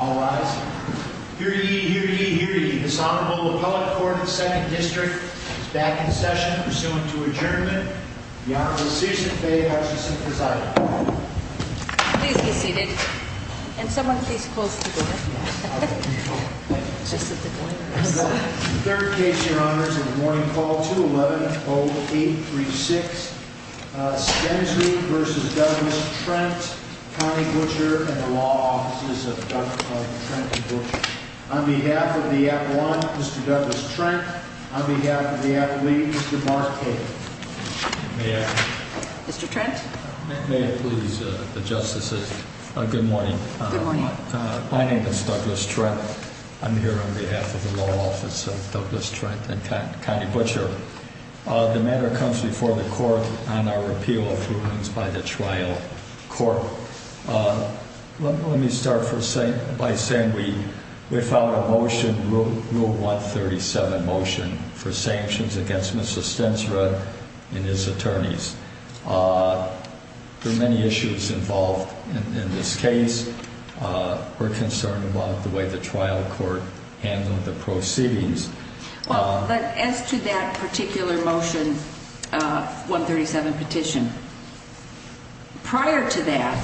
All rise. Hear ye, hear ye, hear ye. This Honorable Appellate Court of the Second District is back in session, pursuant to adjournment. The Honorable Susan Faye Hutchison presides. Please be seated. And someone please close the door. Just at the door. The third case, Your Honors, of the morning call, 211-0836, Stensrud v. Douglas Trent, Connie Butcher, and the Law Offices of Douglas, Trent, and Butcher. On behalf of the Appellant, Mr. Douglas Trent, on behalf of the Appellate, Mr. Mark Cagle. May I? Mr. Trent? May it please the Justices, good morning. My name is Douglas Trent. I'm here on behalf of the Law Offices of Douglas, Trent, and Connie Butcher. The matter comes before the Court on our repeal of rulings by the trial court. Let me start by saying we filed a motion, Rule 137 motion, for sanctions against Mr. Stensrud and his attorneys. There are many issues involved in this case. We're concerned about the way the trial court handled the proceedings. As to that particular motion, 137 petition, prior to that,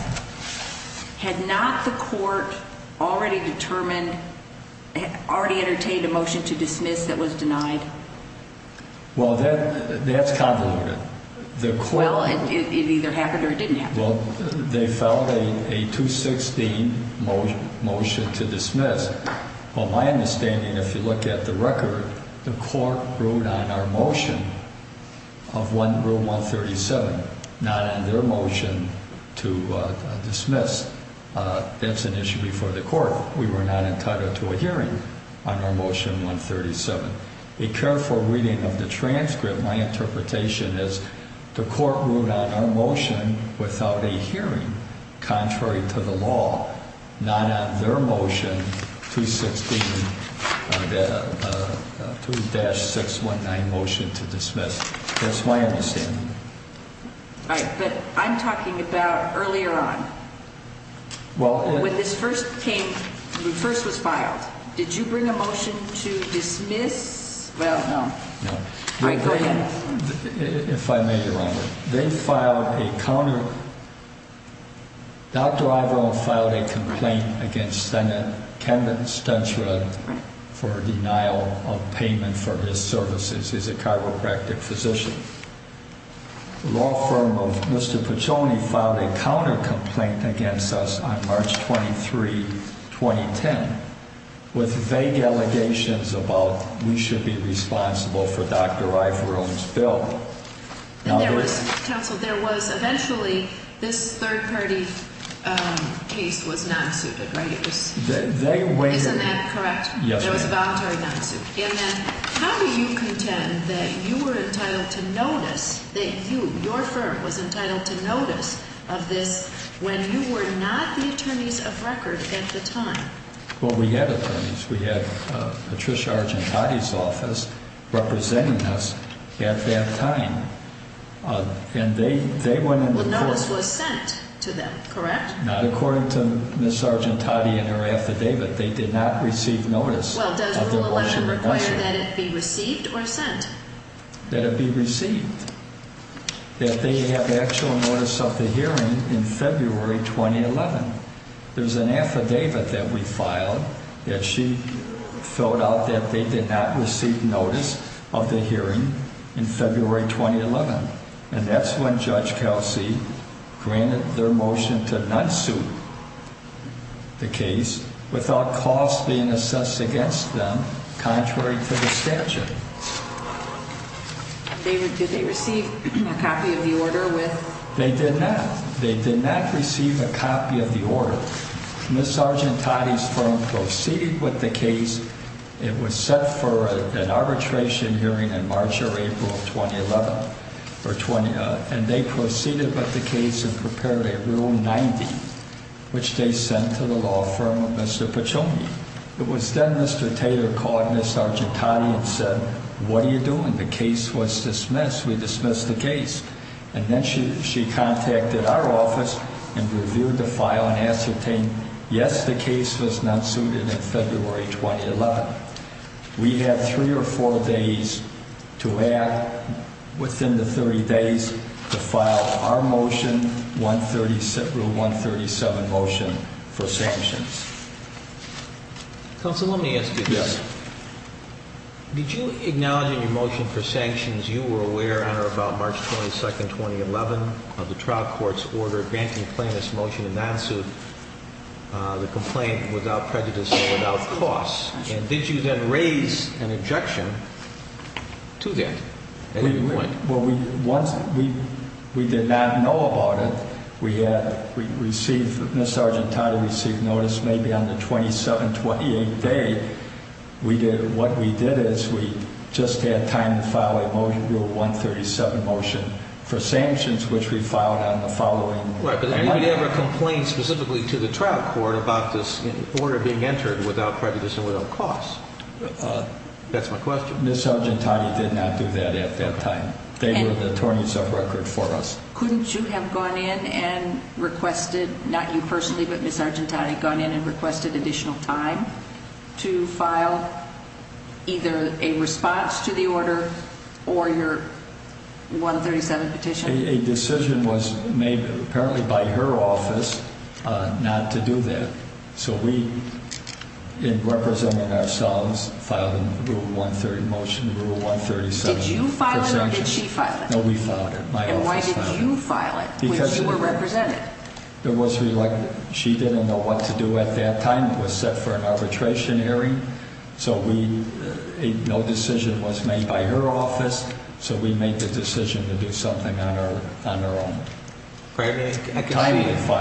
had not the court already determined, already entertained a motion to dismiss that was denied? Well, that's convoluted. It either happened or it didn't happen. They filed a 216 motion to dismiss. Well, my understanding, if you look at the record, the court ruled on our motion of Rule 137, not on their motion to dismiss. That's an issue before the court. We were not entitled to a hearing on our motion 137. A careful reading of the transcript, my interpretation is the court ruled on our motion without a hearing, contrary to the law, not on their motion 216 2-619 motion to dismiss. That's my understanding. All right, but I'm talking about earlier on. When this first was filed, did you bring a motion to dismiss? Well, no. All right, go ahead. If I may, Your Honor. They filed a counter Dr. Ivo filed a complaint against Mr. Stentra, for denial of payment for his services. He's a chiropractic physician. The law firm of Mr. Piccioni filed a counter complaint against us on March 23, 2010 with vague allegations about we should be responsible for Dr. Ivo's bill. Counsel, there was eventually this third-party case was non-suited, right? Isn't that correct? It was a voluntary non-suit. How do you contend that you were entitled to notice that you, your firm, was entitled to notice of this when you were not the attorneys of record at the time? Well, we had attorneys. We had Patricia Argentati's office representing us at that time. And they went to court. Well, notice was sent to them, correct? Not according to Ms. Argentati and her affidavit. They did not receive notice of their motion. Well, does Rule 11 require that it be received or sent? That it be received. That they have actual notice of the hearing in February 2011. There's an affidavit that we filed that she filled out that they did not receive notice of the hearing in February 2011. And that's when Judge Kelsey granted their motion to non-suit the case without costs being assessed against them, contrary to the statute. Did they receive a copy of the order with... They did not. They did not receive a copy of the order. Ms. Argentati's firm proceeded with the case. It was set for an arbitration hearing in March or April of 2011. And they proceeded with the case and prepared a Rule 90, which they sent to the law firm of Mr. Pacione. It was then Mr. Taylor called Ms. Argentati and said, what are you doing? The case was dismissed. We dismissed the case. And then she contacted our office and reviewed the file and ascertained, yes, the case was not suited in February 2011. We had three or four days to add, within the 30 days to file our motion, Rule 137 motion for sanctions. Counsel, let me ask you this. Did you acknowledge in your motion for sanctions, you were aware on or about March 22, 2011 of the trial court's order granting plaintiff's motion to non-suit the complaint without prejudice or without costs? And did you then raise an objection to that at any point? We did not know about it. Ms. Argentati received notice maybe on the 27th, 28th day. What we did is we just had time to file a motion, Rule 137 motion, for sanctions, which we filed on the following Monday. Right, but did anybody ever complain specifically to the trial court about this order being entered without prejudice and without costs? That's my question. Ms. Argentati did not do that at that time. They were the attorneys of record for us. Couldn't you have gone in and requested, not you personally, but Ms. Argentati gone in and requested additional time to file either a response to the order or your 137 petition? A decision was made, apparently by her office, not to do that. So we, in representing ourselves, filed a Rule 137 motion. Did you file it or did she file it? No, we filed it. My office filed it. And why did you file it when you were represented? It was reluctant. She didn't know what to do at that time. It was set for an arbitration hearing. So we, no decision was made by her office. So we made the decision to do something on our own. I can see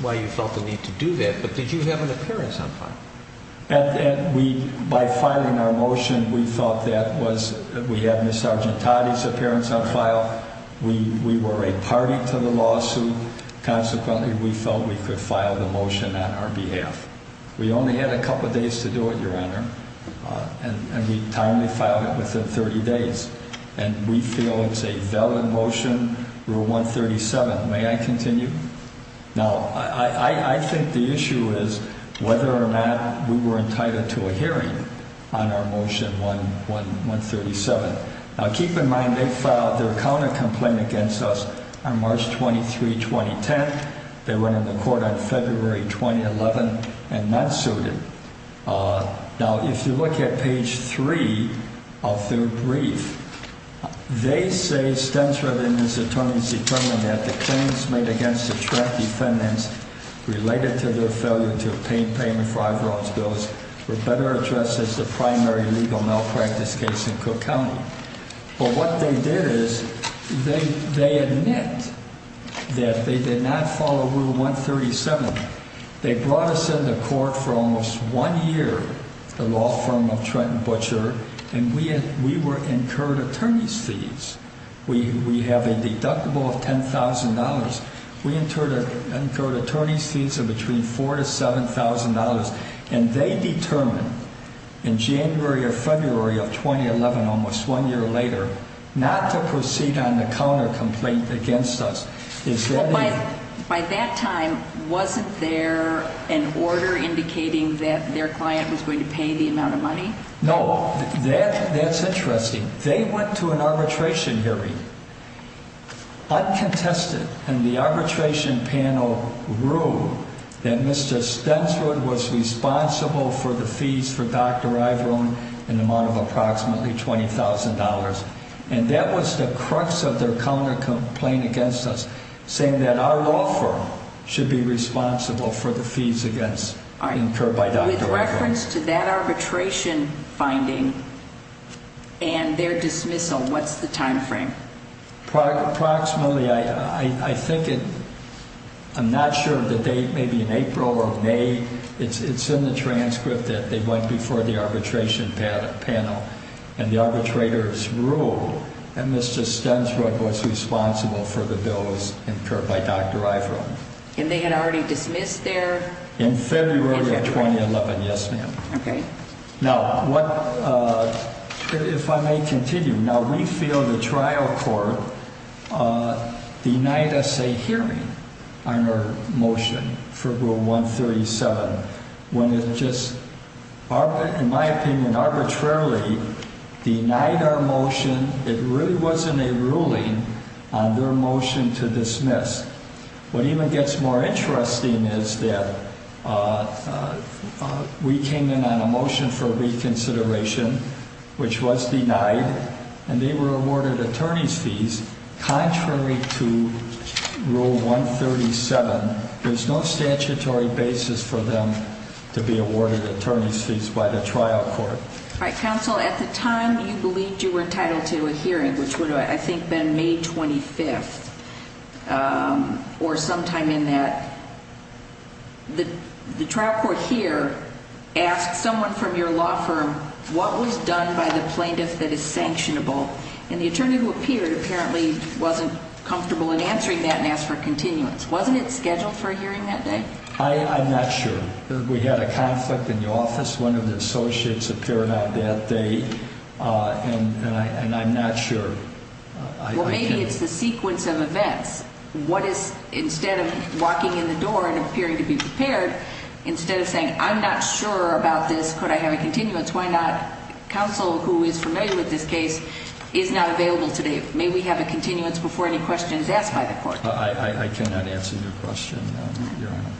why you felt the need to do that, but did you have an appearance on file? By filing our motion, we thought that we had Ms. Argentati's appearance on file. We were a party to the lawsuit. Consequently, we felt we could file the motion on our behalf. We only had a couple of days to do it, Your Honor. And we timely filed it within 30 days. And we feel it's a good thing. Now, I think the issue is whether or not we were entitled to a hearing on our motion 1, 137. Now, keep in mind, they filed their counter complaint against us on March 23, 2010. They went into court on February 2011 and not sued it. Now, if you look at page three of their brief, they say, stencilled in his attorney's determinant, that the claims made against the Trent defendants related to their failure to obtain payment for Ivor Oaks bills were better addressed as the primary legal malpractice case in Cook County. But what they did is, they admit that they did not follow Rule 137. They brought us into court for almost one year, the law firm of Trent & Butcher, and we were incurred attorney's fees. We have a deductible of $10,000. We incurred attorney's fees of between $4,000 to $7,000, and they determined in January or February of 2011, almost one year later, not to proceed on the counter complaint against us. By that time, wasn't there an order indicating that their client was going to pay the amount of money? No. That's interesting. They went to an arbitration hearing uncontested, and the arbitration panel ruled that Mr. Stenswood was responsible for the fees for Dr. Iveron, an amount of approximately $20,000. And that was the crux of their counter complaint against us, saying that our law firm should be responsible for the fees incurred by Dr. Iveron. With reference to that arbitration finding and their dismissal, what's the time frame? Approximately, I'm not sure of the date. Maybe in April or May. It's in the transcript that they went before the arbitration panel, and the arbitrators ruled that Mr. Stenswood was responsible for the bills incurred by Dr. Iveron. And they had already dismissed their In February of 2011. Yes, ma'am. Now, if I may continue, now we feel the trial court denied us a hearing on our motion for Rule 137 when it just in my opinion, arbitrarily denied our motion. It really wasn't a ruling on their motion to dismiss. What even gets more interesting is that we came in on a motion for reconsideration which was denied, and they were awarded attorney's fees contrary to Rule 137. There's no statutory basis for them to be awarded attorney's fees by the trial court. All right, counsel, at the time you believed you were entitled to a hearing, which would have, I think, been May 25th, or sometime in that, the trial court here asked someone from your law firm what was done by the plaintiff that is sanctionable, and the attorney who appeared apparently wasn't comfortable in answering that and asked for continuance. Wasn't it scheduled for a hearing that day? I'm not sure. We had a conflict in the office. One of the associates appeared on that day, and I'm not sure. Well, maybe it's the sequence of events. Instead of walking in the door and appearing to be prepared, instead of saying, I'm not sure about this, could I have a continuance, why not counsel who is familiar with this case is not available today. May we have a continuance before any question is asked by the court? I cannot answer your question, Your Honor.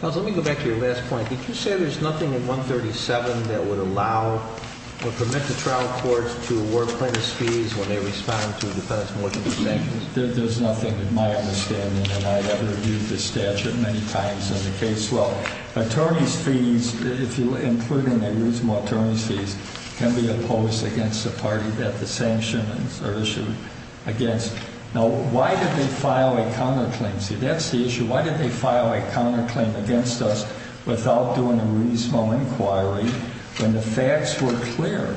Counsel, let me go back to your last point. Did you say there's nothing in 137 that would allow or permit the trial courts to award plaintiff's fees when they respond to defendants more than the sanctions? There's nothing in my understanding that I've ever viewed this statute many times in the case. Well, attorney's fees, including the reasonable attorney's fees, can be opposed against the party that the sanctions are issued against. Now, why did they file a counterclaim? See, that's the issue. Why did they file a counterclaim against us without doing a reasonable inquiry when the facts were clear?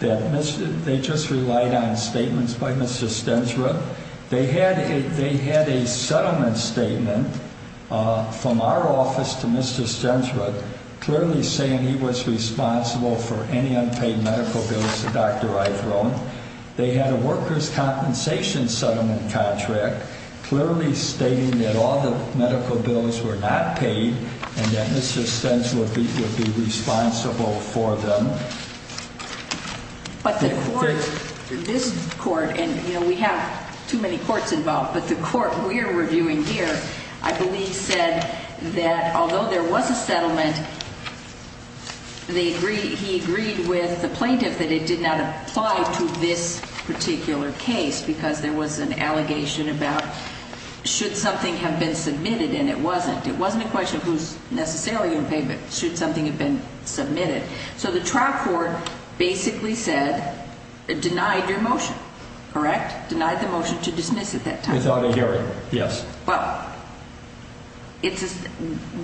They just relied on statements by Mr. Stensrud. They had a settlement statement from our office to Mr. Stensrud clearly saying he was responsible for any unpaid medical bills to Dr. Eithrone. They had a workers' compensation settlement contract clearly stating that all the medical bills were not paid and that Mr. Stensrud would be responsible for them. But the court, this court, and we have too many courts involved, but the court we're reviewing here, I believe said that although there was a settlement, he agreed with the plaintiff that it did not apply to this particular case because there was an allegation about should something have been submitted and it wasn't. It wasn't a question of who's been submitted. So the trial court basically said it denied your motion, correct? Denied the motion to dismiss at that time. Without a hearing, yes. But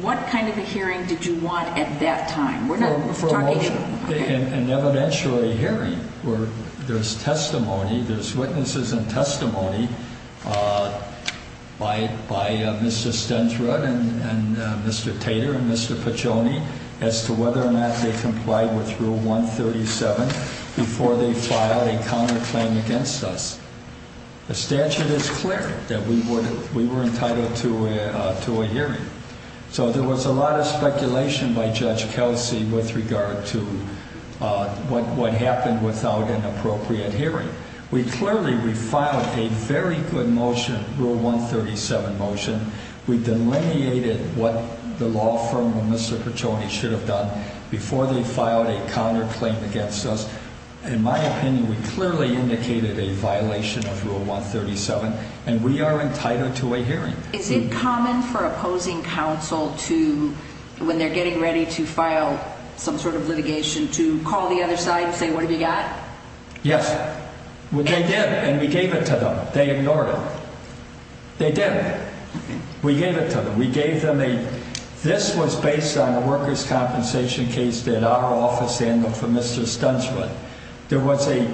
what kind of a hearing did you want at that time? An evidentiary hearing where there's testimony, there's witnesses and testimony by Mr. Stensrud and Mr. Pagione as to whether or not they complied with Rule 137 before they filed a counterclaim against us. The statute is clear that we were entitled to a hearing. So there was a lot of speculation by Judge Kelsey with regard to what happened without an appropriate hearing. We clearly, we filed a very good motion, Rule 137 motion. We delineated what the law firm and Mr. Pagione should have done before they filed a counterclaim against us. In my opinion, we clearly indicated a violation of Rule 137 and we are entitled to a hearing. Is it common for opposing counsel to, when they're getting ready to file some sort of litigation, to call the other side and say, what have you got? Yes. They did and we gave it to them. They ignored it. They did. We gave it to them. We gave them a this was based on a workers' compensation case that our office handled for Mr. Stensrud. There was a,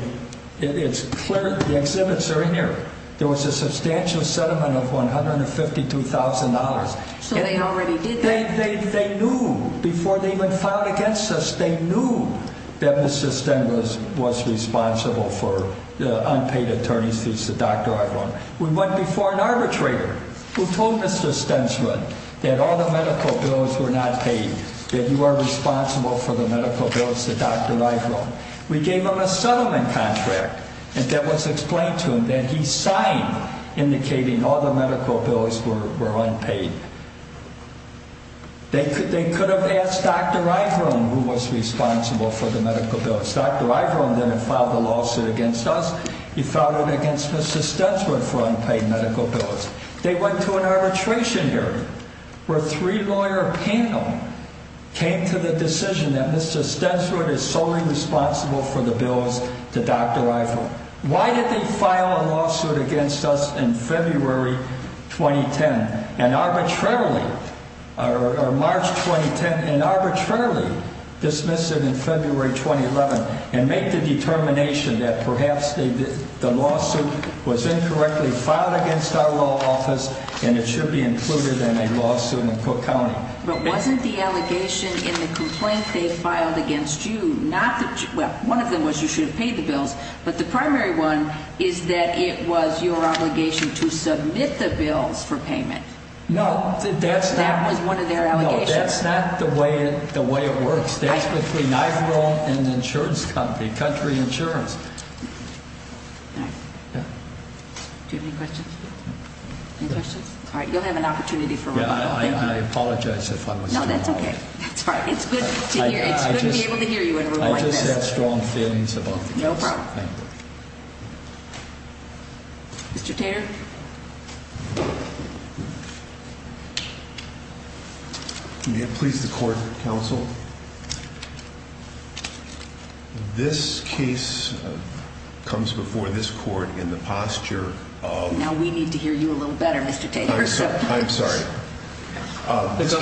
it's clear, the exhibits are in here. There was a substantial settlement of $152,000. So they already did that? They knew before they even filed against us, they knew that Mr. Stensrud was responsible for the unpaid attorney's bills to Dr. Iveron. We went before an arbitrator who told Mr. Stensrud that all the medical bills were not paid, that you are responsible for the medical bills to Dr. Iveron. We gave him a settlement contract that was explained to him that he signed indicating all the medical bills were unpaid. They could have asked Dr. Iveron who was responsible for the medical bills. Dr. Iveron didn't file the lawsuit against us. He filed it against Mr. Stensrud for unpaid medical bills. They went to an arbitration hearing where three lawyers panel came to the decision that Mr. Stensrud is solely responsible for the bills to Dr. Iveron. Why did they file a lawsuit against us in February 2010 and arbitrarily or March 2010 and arbitrarily dismiss it in February 2011 and make the determination that perhaps the lawsuit was incorrectly filed against our law office and it should be included in a lawsuit in Cook County? But wasn't the allegation in the complaint they filed against you not that, well, one of them was you should have paid the bills, but the primary one is that it was your obligation to submit the bills for payment. That was one of their allegations? No, that's not the way it works. That's between Iveron and the insurance company, Country Insurance. Do you have any questions? Any questions? You'll have an opportunity for rebuttal. I apologize if I was... No, that's okay. It's good to hear you in a room like this. I just have strong feelings about the case. No problem. Mr. Tater? Mr. Tater? May it please the court, counsel? This case comes before this court in the posture of... Now we need to hear you a little better, Mr. Tater. I'm sorry. I'm sorry. This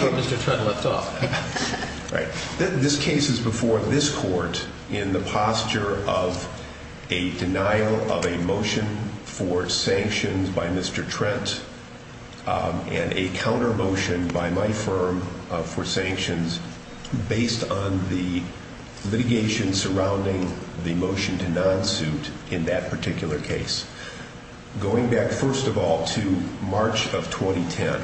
case is before this court in the posture of a denial of a motion by Mr. Trent and a counter motion by my firm for sanctions based on the litigation surrounding the motion to non-suit in that particular case. Going back, first of all, to March of 2010,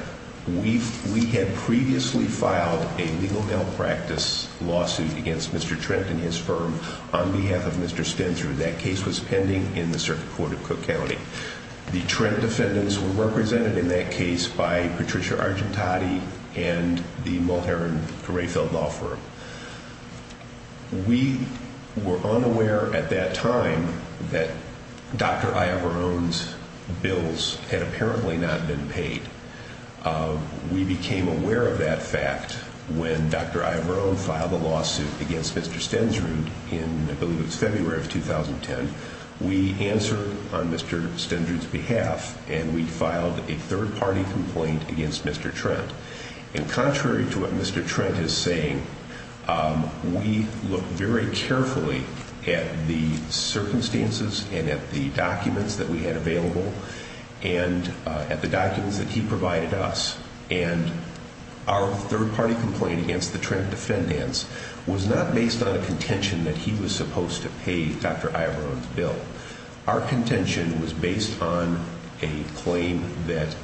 we had previously filed a legal malpractice lawsuit against Mr. Trent and his firm on behalf of Mr. Spencer. That case was pending in the court of appeals. Mr. Trent's defendants were represented in that case by Patricia Argentati and the Mulherin-Greyfeld law firm. We were unaware at that time that Dr. Iavarone's bills had apparently not been paid. We became aware of that fact when Dr. Iavarone filed a lawsuit against Mr. Stensrud in, I believe it was February of 2010. We answered on Mr. Stensrud's behalf and we filed a third-party complaint against Mr. Trent. Contrary to what Mr. Trent is saying, we looked very carefully at the circumstances and at the documents that we had available and at the documents that he provided us and our third-party complaint against the Trent defendants was not based on a Dr. Iavarone's bill. Our contention was based on a claim that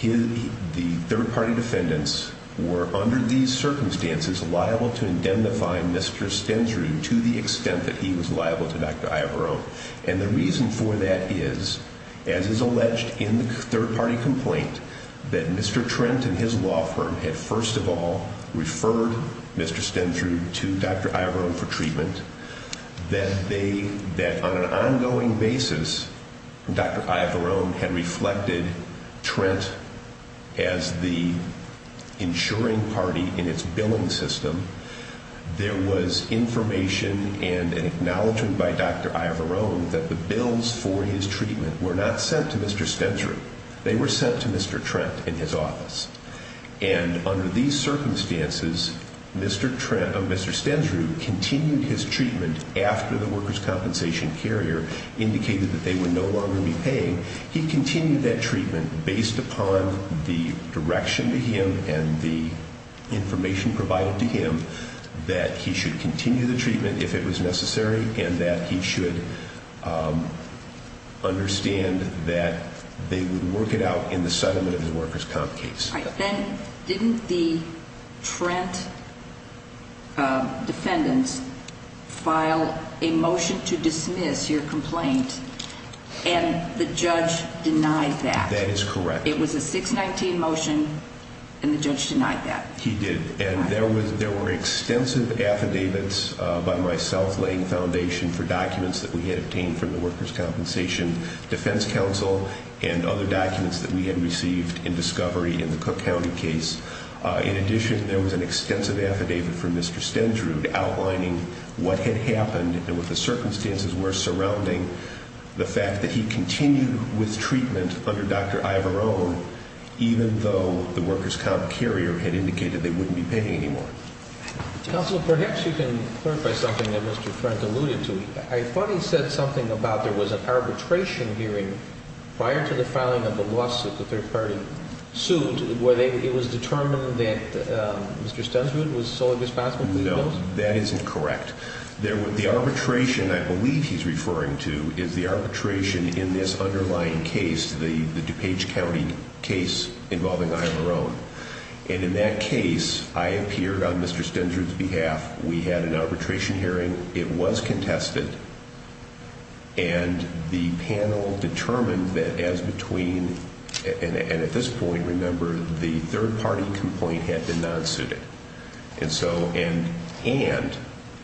the third-party defendants were, under these circumstances, liable to indemnify Mr. Stensrud to the extent that he was liable to Dr. Iavarone. And the reason for that is, as is alleged in the third-party complaint, that Mr. Trent and his law firm had first of all referred Mr. Stensrud to Dr. Iavarone for a, that on an ongoing basis Dr. Iavarone had reflected Trent as the insuring party in its billing system. There was information and an acknowledgement by Dr. Iavarone that the bills for his treatment were not sent to Mr. Stensrud. They were sent to Mr. Trent in his office. And under these circumstances, Mr. Stensrud continued his treatment after the workers' compensation carrier indicated that they would no longer be paying. He continued that treatment based upon the direction to him and the information provided to him that he should continue the treatment if it was necessary and that he should understand that they would work it out in the settlement of the workers' comp case. Then, didn't the Trent defendants file a motion to dismiss your complaint and the judge denied that? That is correct. It was a 619 motion and the judge denied that? He did. And there were extensive affidavits by myself laying foundation for documents that we had obtained from the workers' compensation defense counsel and other documents that we had received in discovery in the Cook County case. In addition, there was an extensive affidavit from Mr. Stensrud outlining what had happened and what the circumstances were surrounding the fact that he continued with treatment under Dr. Ivarone even though the workers' comp carrier had indicated they wouldn't be paying anymore. Counselor, perhaps you can clarify something that Mr. Trent alluded to. I thought he said something about there was an arbitration hearing prior to the filing of the lawsuit, the third-party suit, where it was determined that Mr. Stensrud was solely responsible for the bills? No. That isn't correct. The arbitration I believe he's referring to is the arbitration in this underlying case, the DuPage County case involving Ivarone. And in that case I appeared on Mr. Stensrud's behalf. We had an arbitration hearing. It was contested and the panel determined that as of this point, remember, the third-party complaint had been non-suited. And so, and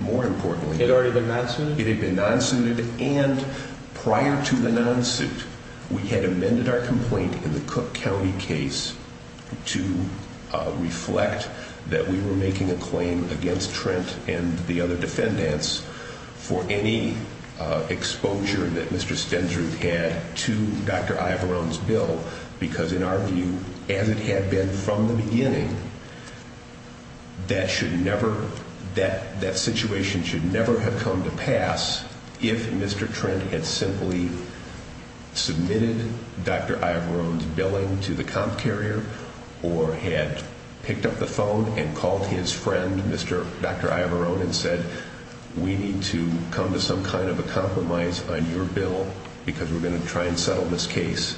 more importantly... It had already been non-suited? It had been non-suited and prior to the non-suit we had amended our complaint in the Cook County case to reflect that we were making a claim against Trent and the other defendants for any exposure that Mr. Stensrud had to Dr. Ivarone's in our view as it had been from the beginning that should never that situation should never have come to pass if Mr. Trent had simply submitted Dr. Ivarone's billing to the comp carrier or had picked up the phone and called his friend, Dr. Ivarone and to some kind of a compromise on your bill because we're going to try and settle this case.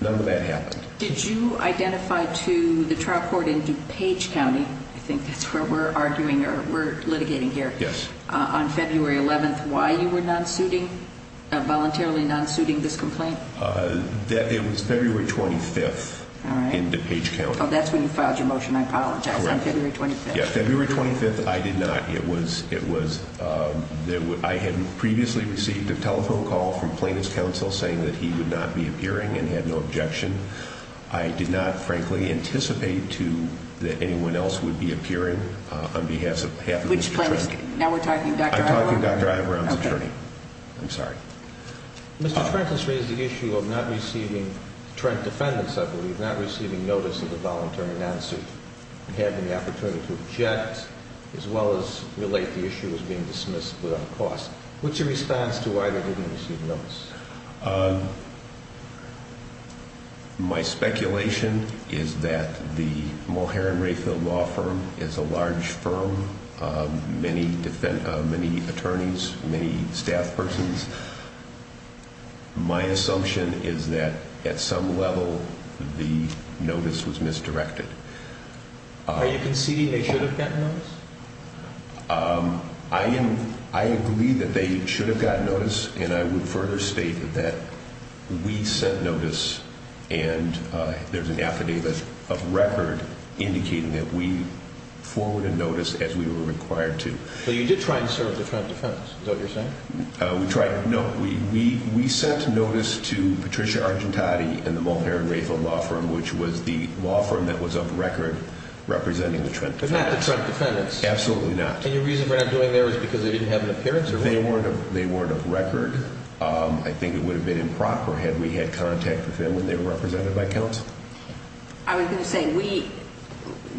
None of that happened. Did you identify to the trial court in DuPage County I think that's where we're arguing we're litigating here. Yes. On February 11th, why you were non-suiting voluntarily non-suiting this complaint? It was February 25th in DuPage County. Oh, that's when you filed your motion I apologize, on February 25th. February 25th, I did not. It was it was I had previously received a telephone call from plaintiff's counsel saying that he would not be appearing and had no objection. I did not, frankly, anticipate to that anyone else would be appearing on behalf of Mr. Trent. Which plaintiff? Now we're talking Dr. Ivarone. I'm talking Dr. Ivarone's attorney. I'm sorry. Mr. Trent has raised the issue of not receiving Trent defendants, I believe, not receiving notice of the voluntary non-suit and having the opportunity to object as well as relate the issue as being dismissed without cause. What's your response to why they didn't receive notice? My speculation is that the Mulherrin-Rayfield Law Firm is a large firm many attorneys many staff persons My assumption is that at some level the notice was misdirected. Are you conceding they should have gotten notice? I agree that they should have gotten notice and I would further state that we sent notice and there's an affidavit of record indicating that we forwarded notice as we were required to. So you did try and serve the Trent defendants, is that what you're saying? No, we sent notice to Patricia Argentati and the Mulherrin-Rayfield Law Firm, which was the law firm that was of record representing the Trent defendants. You've had the Trent defendants? Absolutely not. And your reason for not going there is because they didn't have an appearance? They weren't of record. I think it would have been improper had we had contact with them when they were represented by counsel. I was going to say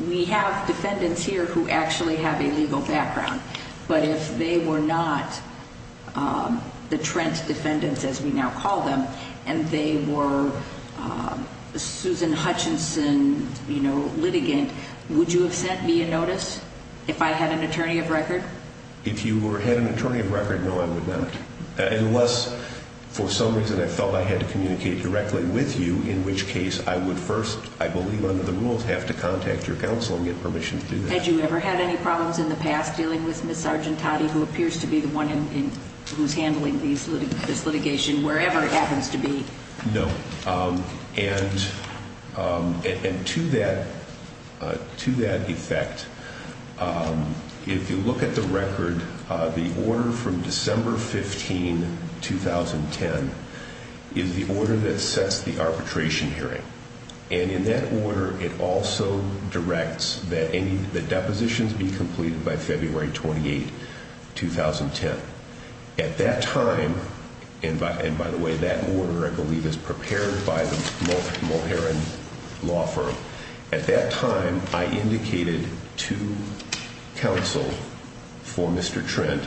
we have defendants here who actually have a legal background, but if they were not the Trent defendants as we now call them, and they were Susan Hutchinson litigant, would you have sent me a notice if I had an attorney of record? If you had an attorney of record, no I would not. Unless for some reason I felt I had to communicate directly with you, in which case I would first, I believe under the rules, have to contact your counsel and get permission to do that. Had you ever had any problems in the past dealing with Ms. Argentati, who appears to be the one who's handling this litigation, wherever it happens to be? No. And to that effect, if you look at the record, the order from December 15, 2010, is the order that sets the arbitration hearing. And in that order it also directs that the depositions be completed by February 28, 2010. At that time, and by the way, that order I believe is prepared by the Mulherin law firm. At that time I indicated to counsel for Mr. Trent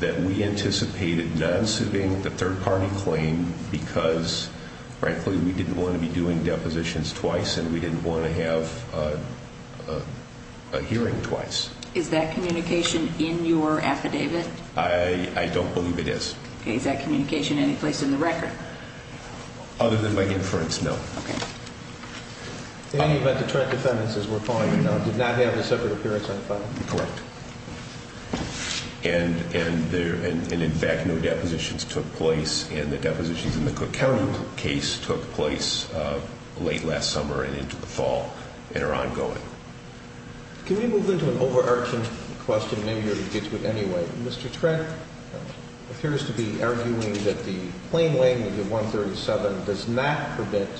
that we anticipated not suing the third party claim because frankly we didn't want to be doing depositions twice and we didn't want to have a hearing twice. Is that communication in your affidavit? I don't believe it is. Is that communication any place in the record? Other than by inference, no. In any event, the Trent defendants, as we're calling them now, did not have a separate appearance on the file? Correct. And in fact no depositions took place and the depositions in the Cook County case took place late last summer and into the fall and are ongoing. Can we move into an overarching question, maybe you'll get to it anyway. Mr. Trent appears to be arguing that the plain language of 137 does not prevent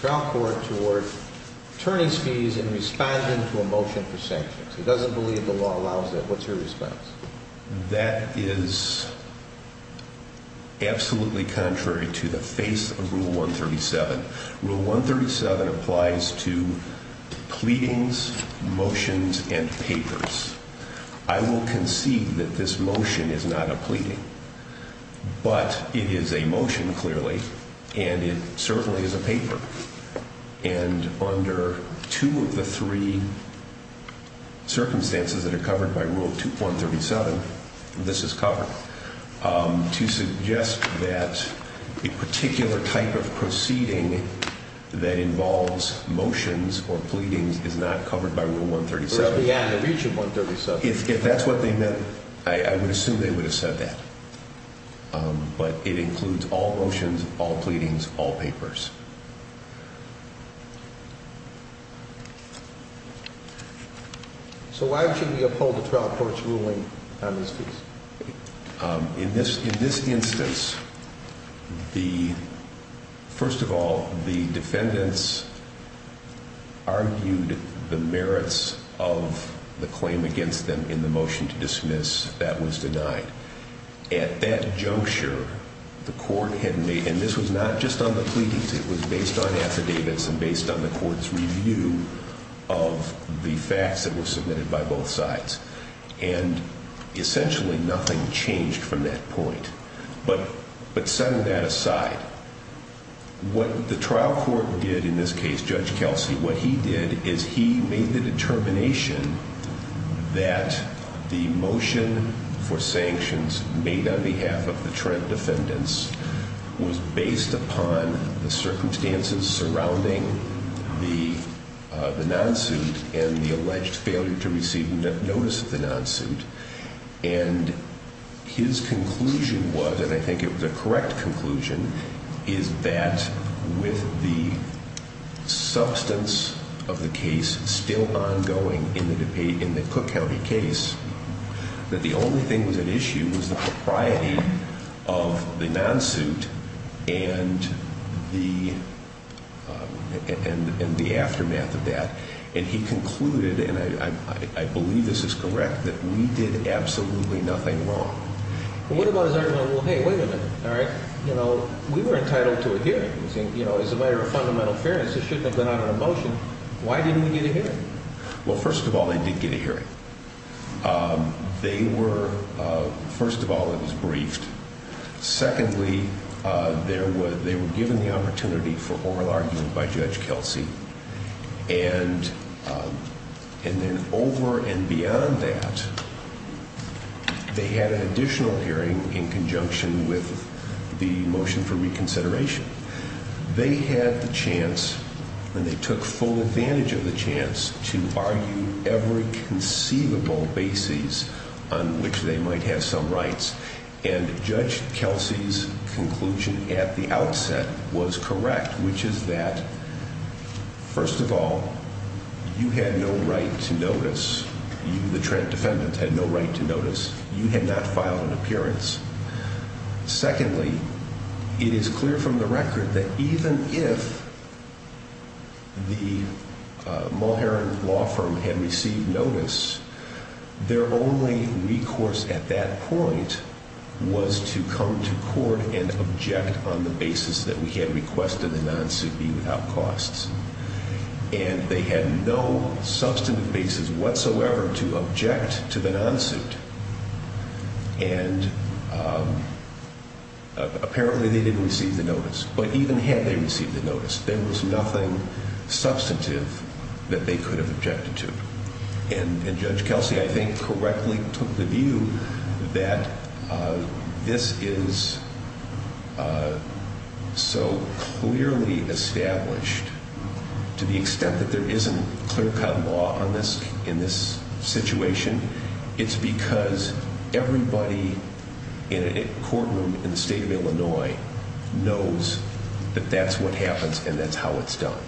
trial court toward turning speech and responding to a motion for sanctions. He doesn't believe the law allows that. What's your response? That is absolutely contrary to the face of Rule 137. Rule 137 applies to pleadings, motions, and papers. I will concede that this motion is not a pleading, but it is a motion, clearly, and it certainly is a paper. And under two of the three circumstances that are covered by Rule 137, this is covered. To suggest that a particular type of proceeding that involves motions or pleadings is not covered by Rule 137, if that's what they meant, I would assume they would have said that. But it includes all motions, all pleadings, all papers. So why should we uphold the trial court's ruling on this case? In this instance, the first of all, the defendants argued the merits of the claim against them in the motion to dismiss that was denied. At that juncture, the court had made, and this was not just on the pleadings, it was based on affidavits and based on the court's review of the facts that were submitted by both sides. And essentially nothing changed from that point. But setting that aside, what the trial court did in this case, Judge Kelsey, what he did is he made the determination that the motion for sanctions made on behalf of the Trent defendants was based upon the circumstances surrounding the non-suit and the alleged failure to receive notice of the non-suit. And his conclusion was, and I think it was a correct conclusion, is that with the substance of the case still ongoing in the Cook County case, that the only thing that was at issue was the propriety of the non-suit and the aftermath of that. And he concluded, and I believe this is correct, that we did absolutely nothing wrong. Well, what about his argument, well, hey, wait a minute. All right? You know, we were entitled to a hearing. You know, as a matter of fundamental fairness, this shouldn't have been out of the motion. Why didn't we get a hearing? Well, first of all, they did get a hearing. They were, first of all, it was briefed. Secondly, they were given the opportunity for oral argument by Judge Kelsey. And then over and beyond that, they had an additional hearing in conjunction with the motion for reconsideration. They had the chance, and they took full advantage of the chance, to argue every conceivable basis on which they might have some rights. And Judge Kelsey's conclusion at the outset was correct, which is that first of all, you had no right to notice You, the defendant, had no right to notice. You had not filed an appearance. Secondly, it is clear from the record that even if the Mulherin law firm had received notice, their only recourse at that point was to come to court and object on the basis that we had requested the non-suit be without costs. And they had no substantive basis whatsoever to object to the non-suit. And apparently they didn't receive the notice. But even had they received the notice, there was nothing substantive that they could have objected to. And Judge Kelsey, I think, correctly took the view that this is so clearly established to the law in this situation. It's because everybody in a courtroom in the state of Illinois knows that that's what happens and that's how it's done.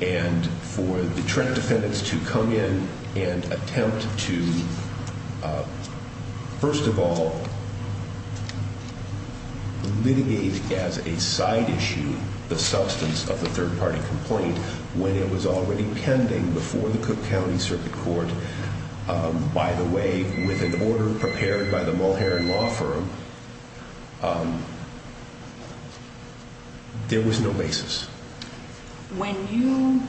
And for the Trent defendants to come in and attempt to, first of all, litigate as a side issue the substance of the third party complaint when it was already pending before the Cook County Circuit Court, by the way, with an order prepared by the Mulherin Law Firm, there was no basis. When you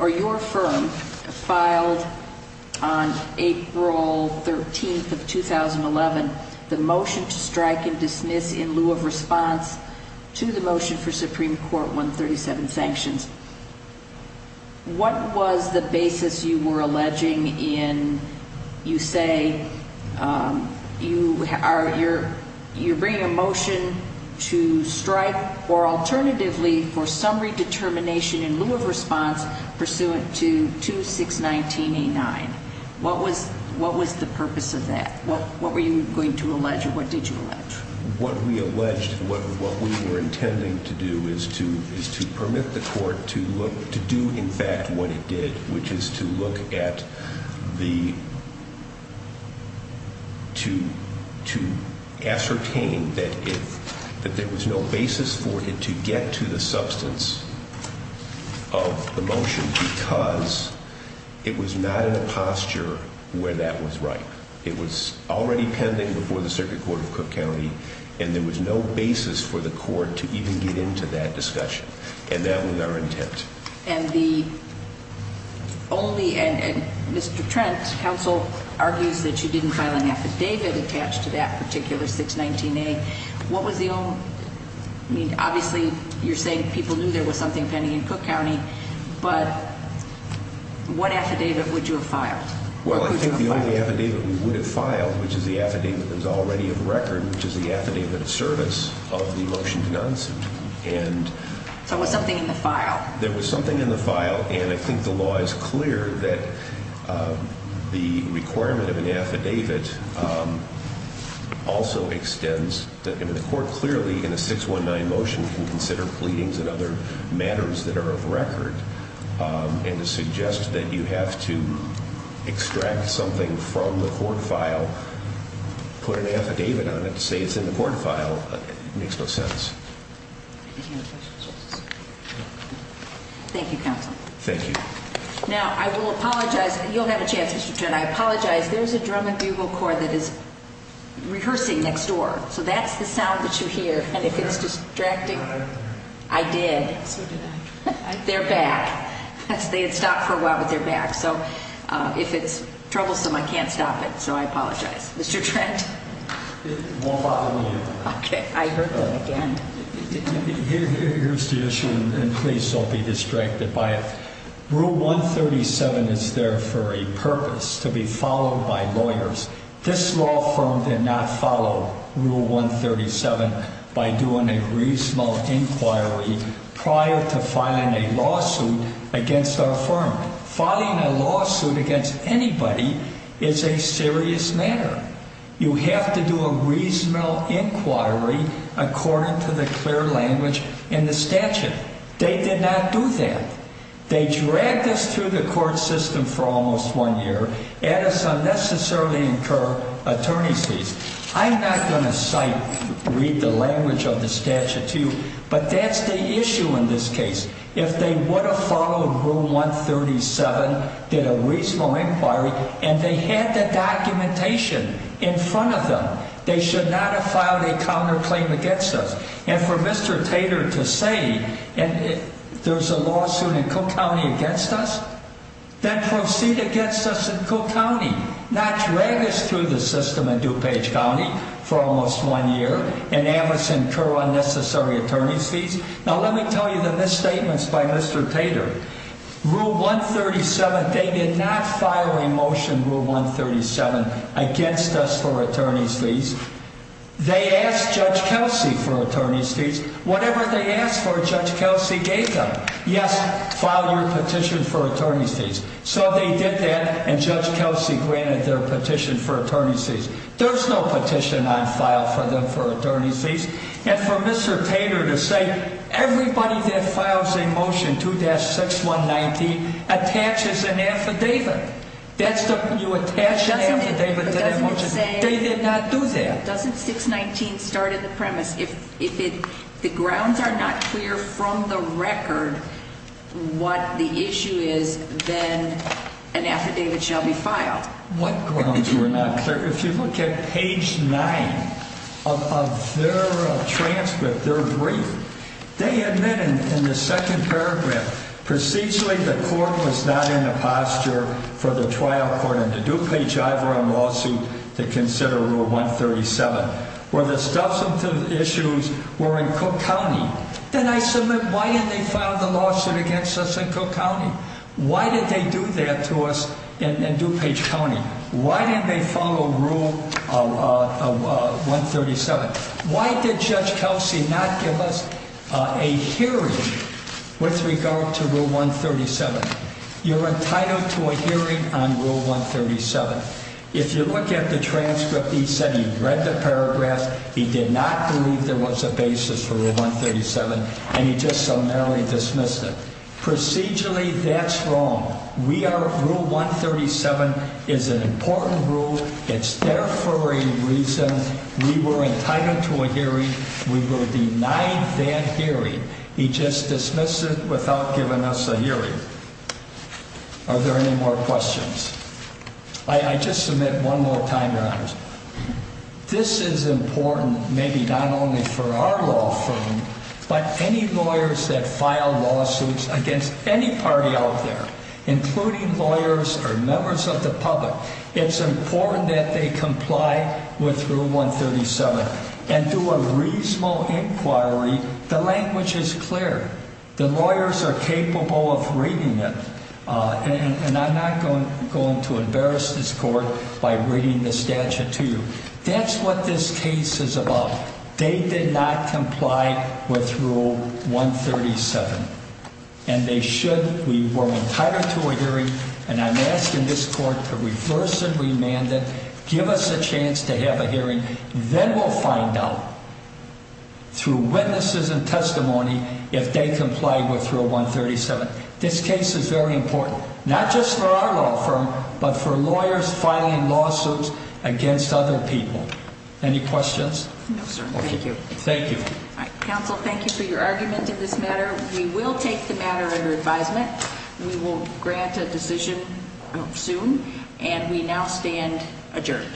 or your firm filed on April 13th of 2011 the motion to strike and dismiss in lieu of response to the motion for Supreme Court 137 sanctions, what was the basis you were alleging in, you say, you're bringing a motion to strike or alternatively for some redetermination in lieu of response pursuant to 2619-89. What was the purpose of that? What were you going to allege or what did you allege? What we alleged, what we were intending to do is to permit the court to do, in fact, what it did, which is to look at the, to ascertain that there was no basis for it to get to the substance of the motion because it was not in a posture where that was right. It was already pending before the Circuit Court of There was no basis for the court to even get into that discussion and that was our intent. And the only, and Mr. Trent, counsel argues that you didn't file an affidavit attached to that particular 619-A. What was the only, I mean, obviously you're saying people knew there was something pending in Cook County, but what affidavit would you have filed? Well, I think the only affidavit that we would have filed, which is the affidavit that is already of record, which is the affidavit of service of the motion denounced, and... So there was something in the file? There was something in the file and I think the law is clear that the requirement of an affidavit also extends, I mean the court clearly in a 619 motion can consider pleadings and other matters that are of record, and to suggest that you have to in the court file put an affidavit on it to say it's in the court file makes no sense. Any other questions? Thank you, counsel. Thank you. Now, I will apologize, you'll have a chance Mr. Trent, I apologize, there's a drum and bugle that is rehearsing next door so that's the sound that you hear and if it's distracting... I did. They're back. They had stopped for a while but they're back, so if it's troublesome I can't stop it so I apologize. Mr. Trent? It won't bother me. Okay, I heard that again. Here's the issue and please don't be distracted by it. Rule 137 is there for a purpose, to be followed by lawyers. This law firm did not follow Rule 137 by doing a reasonable inquiry prior to filing a lawsuit against our firm. Filing a lawsuit against anybody is a serious matter. You have to do a reasonable inquiry according to the clear language in the statute. They did not do that. They dragged us through the court system for almost one year and unnecessarily incur attorney's fees. I'm not going to cite, read the language of the statute to you, but that's the issue in this case. If they would have followed Rule 137 did a reasonable inquiry and they had the documentation in front of them they should not have filed a counter claim against us. And for Mr. Tater to say there's a lawsuit in Cook County against us? Then proceed against us in Cook County. Not drag us through the system in DuPage County for almost one year and have us incur unnecessary attorney's fees? Now let me tell you the misstatements by Mr. Tater. Rule 137, they did not file a motion, Rule 137 against us for attorney's fees. They asked Judge Kelsey for attorney's fees. Whatever they asked for, Judge Kelsey gave them. Yes, file your petition for attorney's fees. So they did that and Judge Kelsey granted their petition for attorney's fees. There's no petition on file for them for attorney's fees. And for Mr. Tater to say everybody that files a motion 2-619 attaches an affidavit. You attach an affidavit to their motion. They did not do that. Doesn't 619 start at the premise? If the grounds are not clear from the record what the issue is, then an affidavit shall be filed. What grounds were not clear? If you look at page 9 of their transcript, their brief, they admit in the second paragraph, procedurally the court was not in the posture for the trial court under DuPage Ivor on lawsuit to consider Rule 137. Where the substantive issues were in Cook County, then I submit why didn't they file the lawsuit against us in Cook County? Why did they do that to us in DuPage County? Why didn't they follow Rule 137? Why did Judge Kelsey not give us a hearing with regard to Rule 137? You're entitled to a hearing on Rule 137. If you look at the transcript he said he read the paragraph, he did not believe there was a basis for Rule 137, and he just summarily dismissed it. Procedurally, that's wrong. We are, Rule 137 is an important rule. It's there for a reason. We were entitled to a hearing. We were denied that hearing. He just dismissed it without giving us a hearing. Are there any more questions? I just submit one more time, Your Honors. This is important maybe not only for our law firm, but any lawyers that file lawsuits against any party out there, including lawyers or members of the public, it's important that they comply with Rule 137 and do a reasonable inquiry. The language is clear. The lawyers are capable of reading it. And I'm not going to embarrass this Court by reading the statute to you. That's what this case is about. They did not comply with Rule 137. And they should. We were entitled to a hearing. And I'm asking this Court to reverse and remand it. Give us a chance to have a hearing. Then we'll find out through witnesses and testimony if they comply with Rule 137. This case is very important, not just for our law firm, but for lawyers filing lawsuits against other people. Any questions? No, sir. Thank you. Thank you. Counsel, thank you for your argument in this matter. We will take the matter under advisement. We will grant a decision soon. And we now stand adjourned.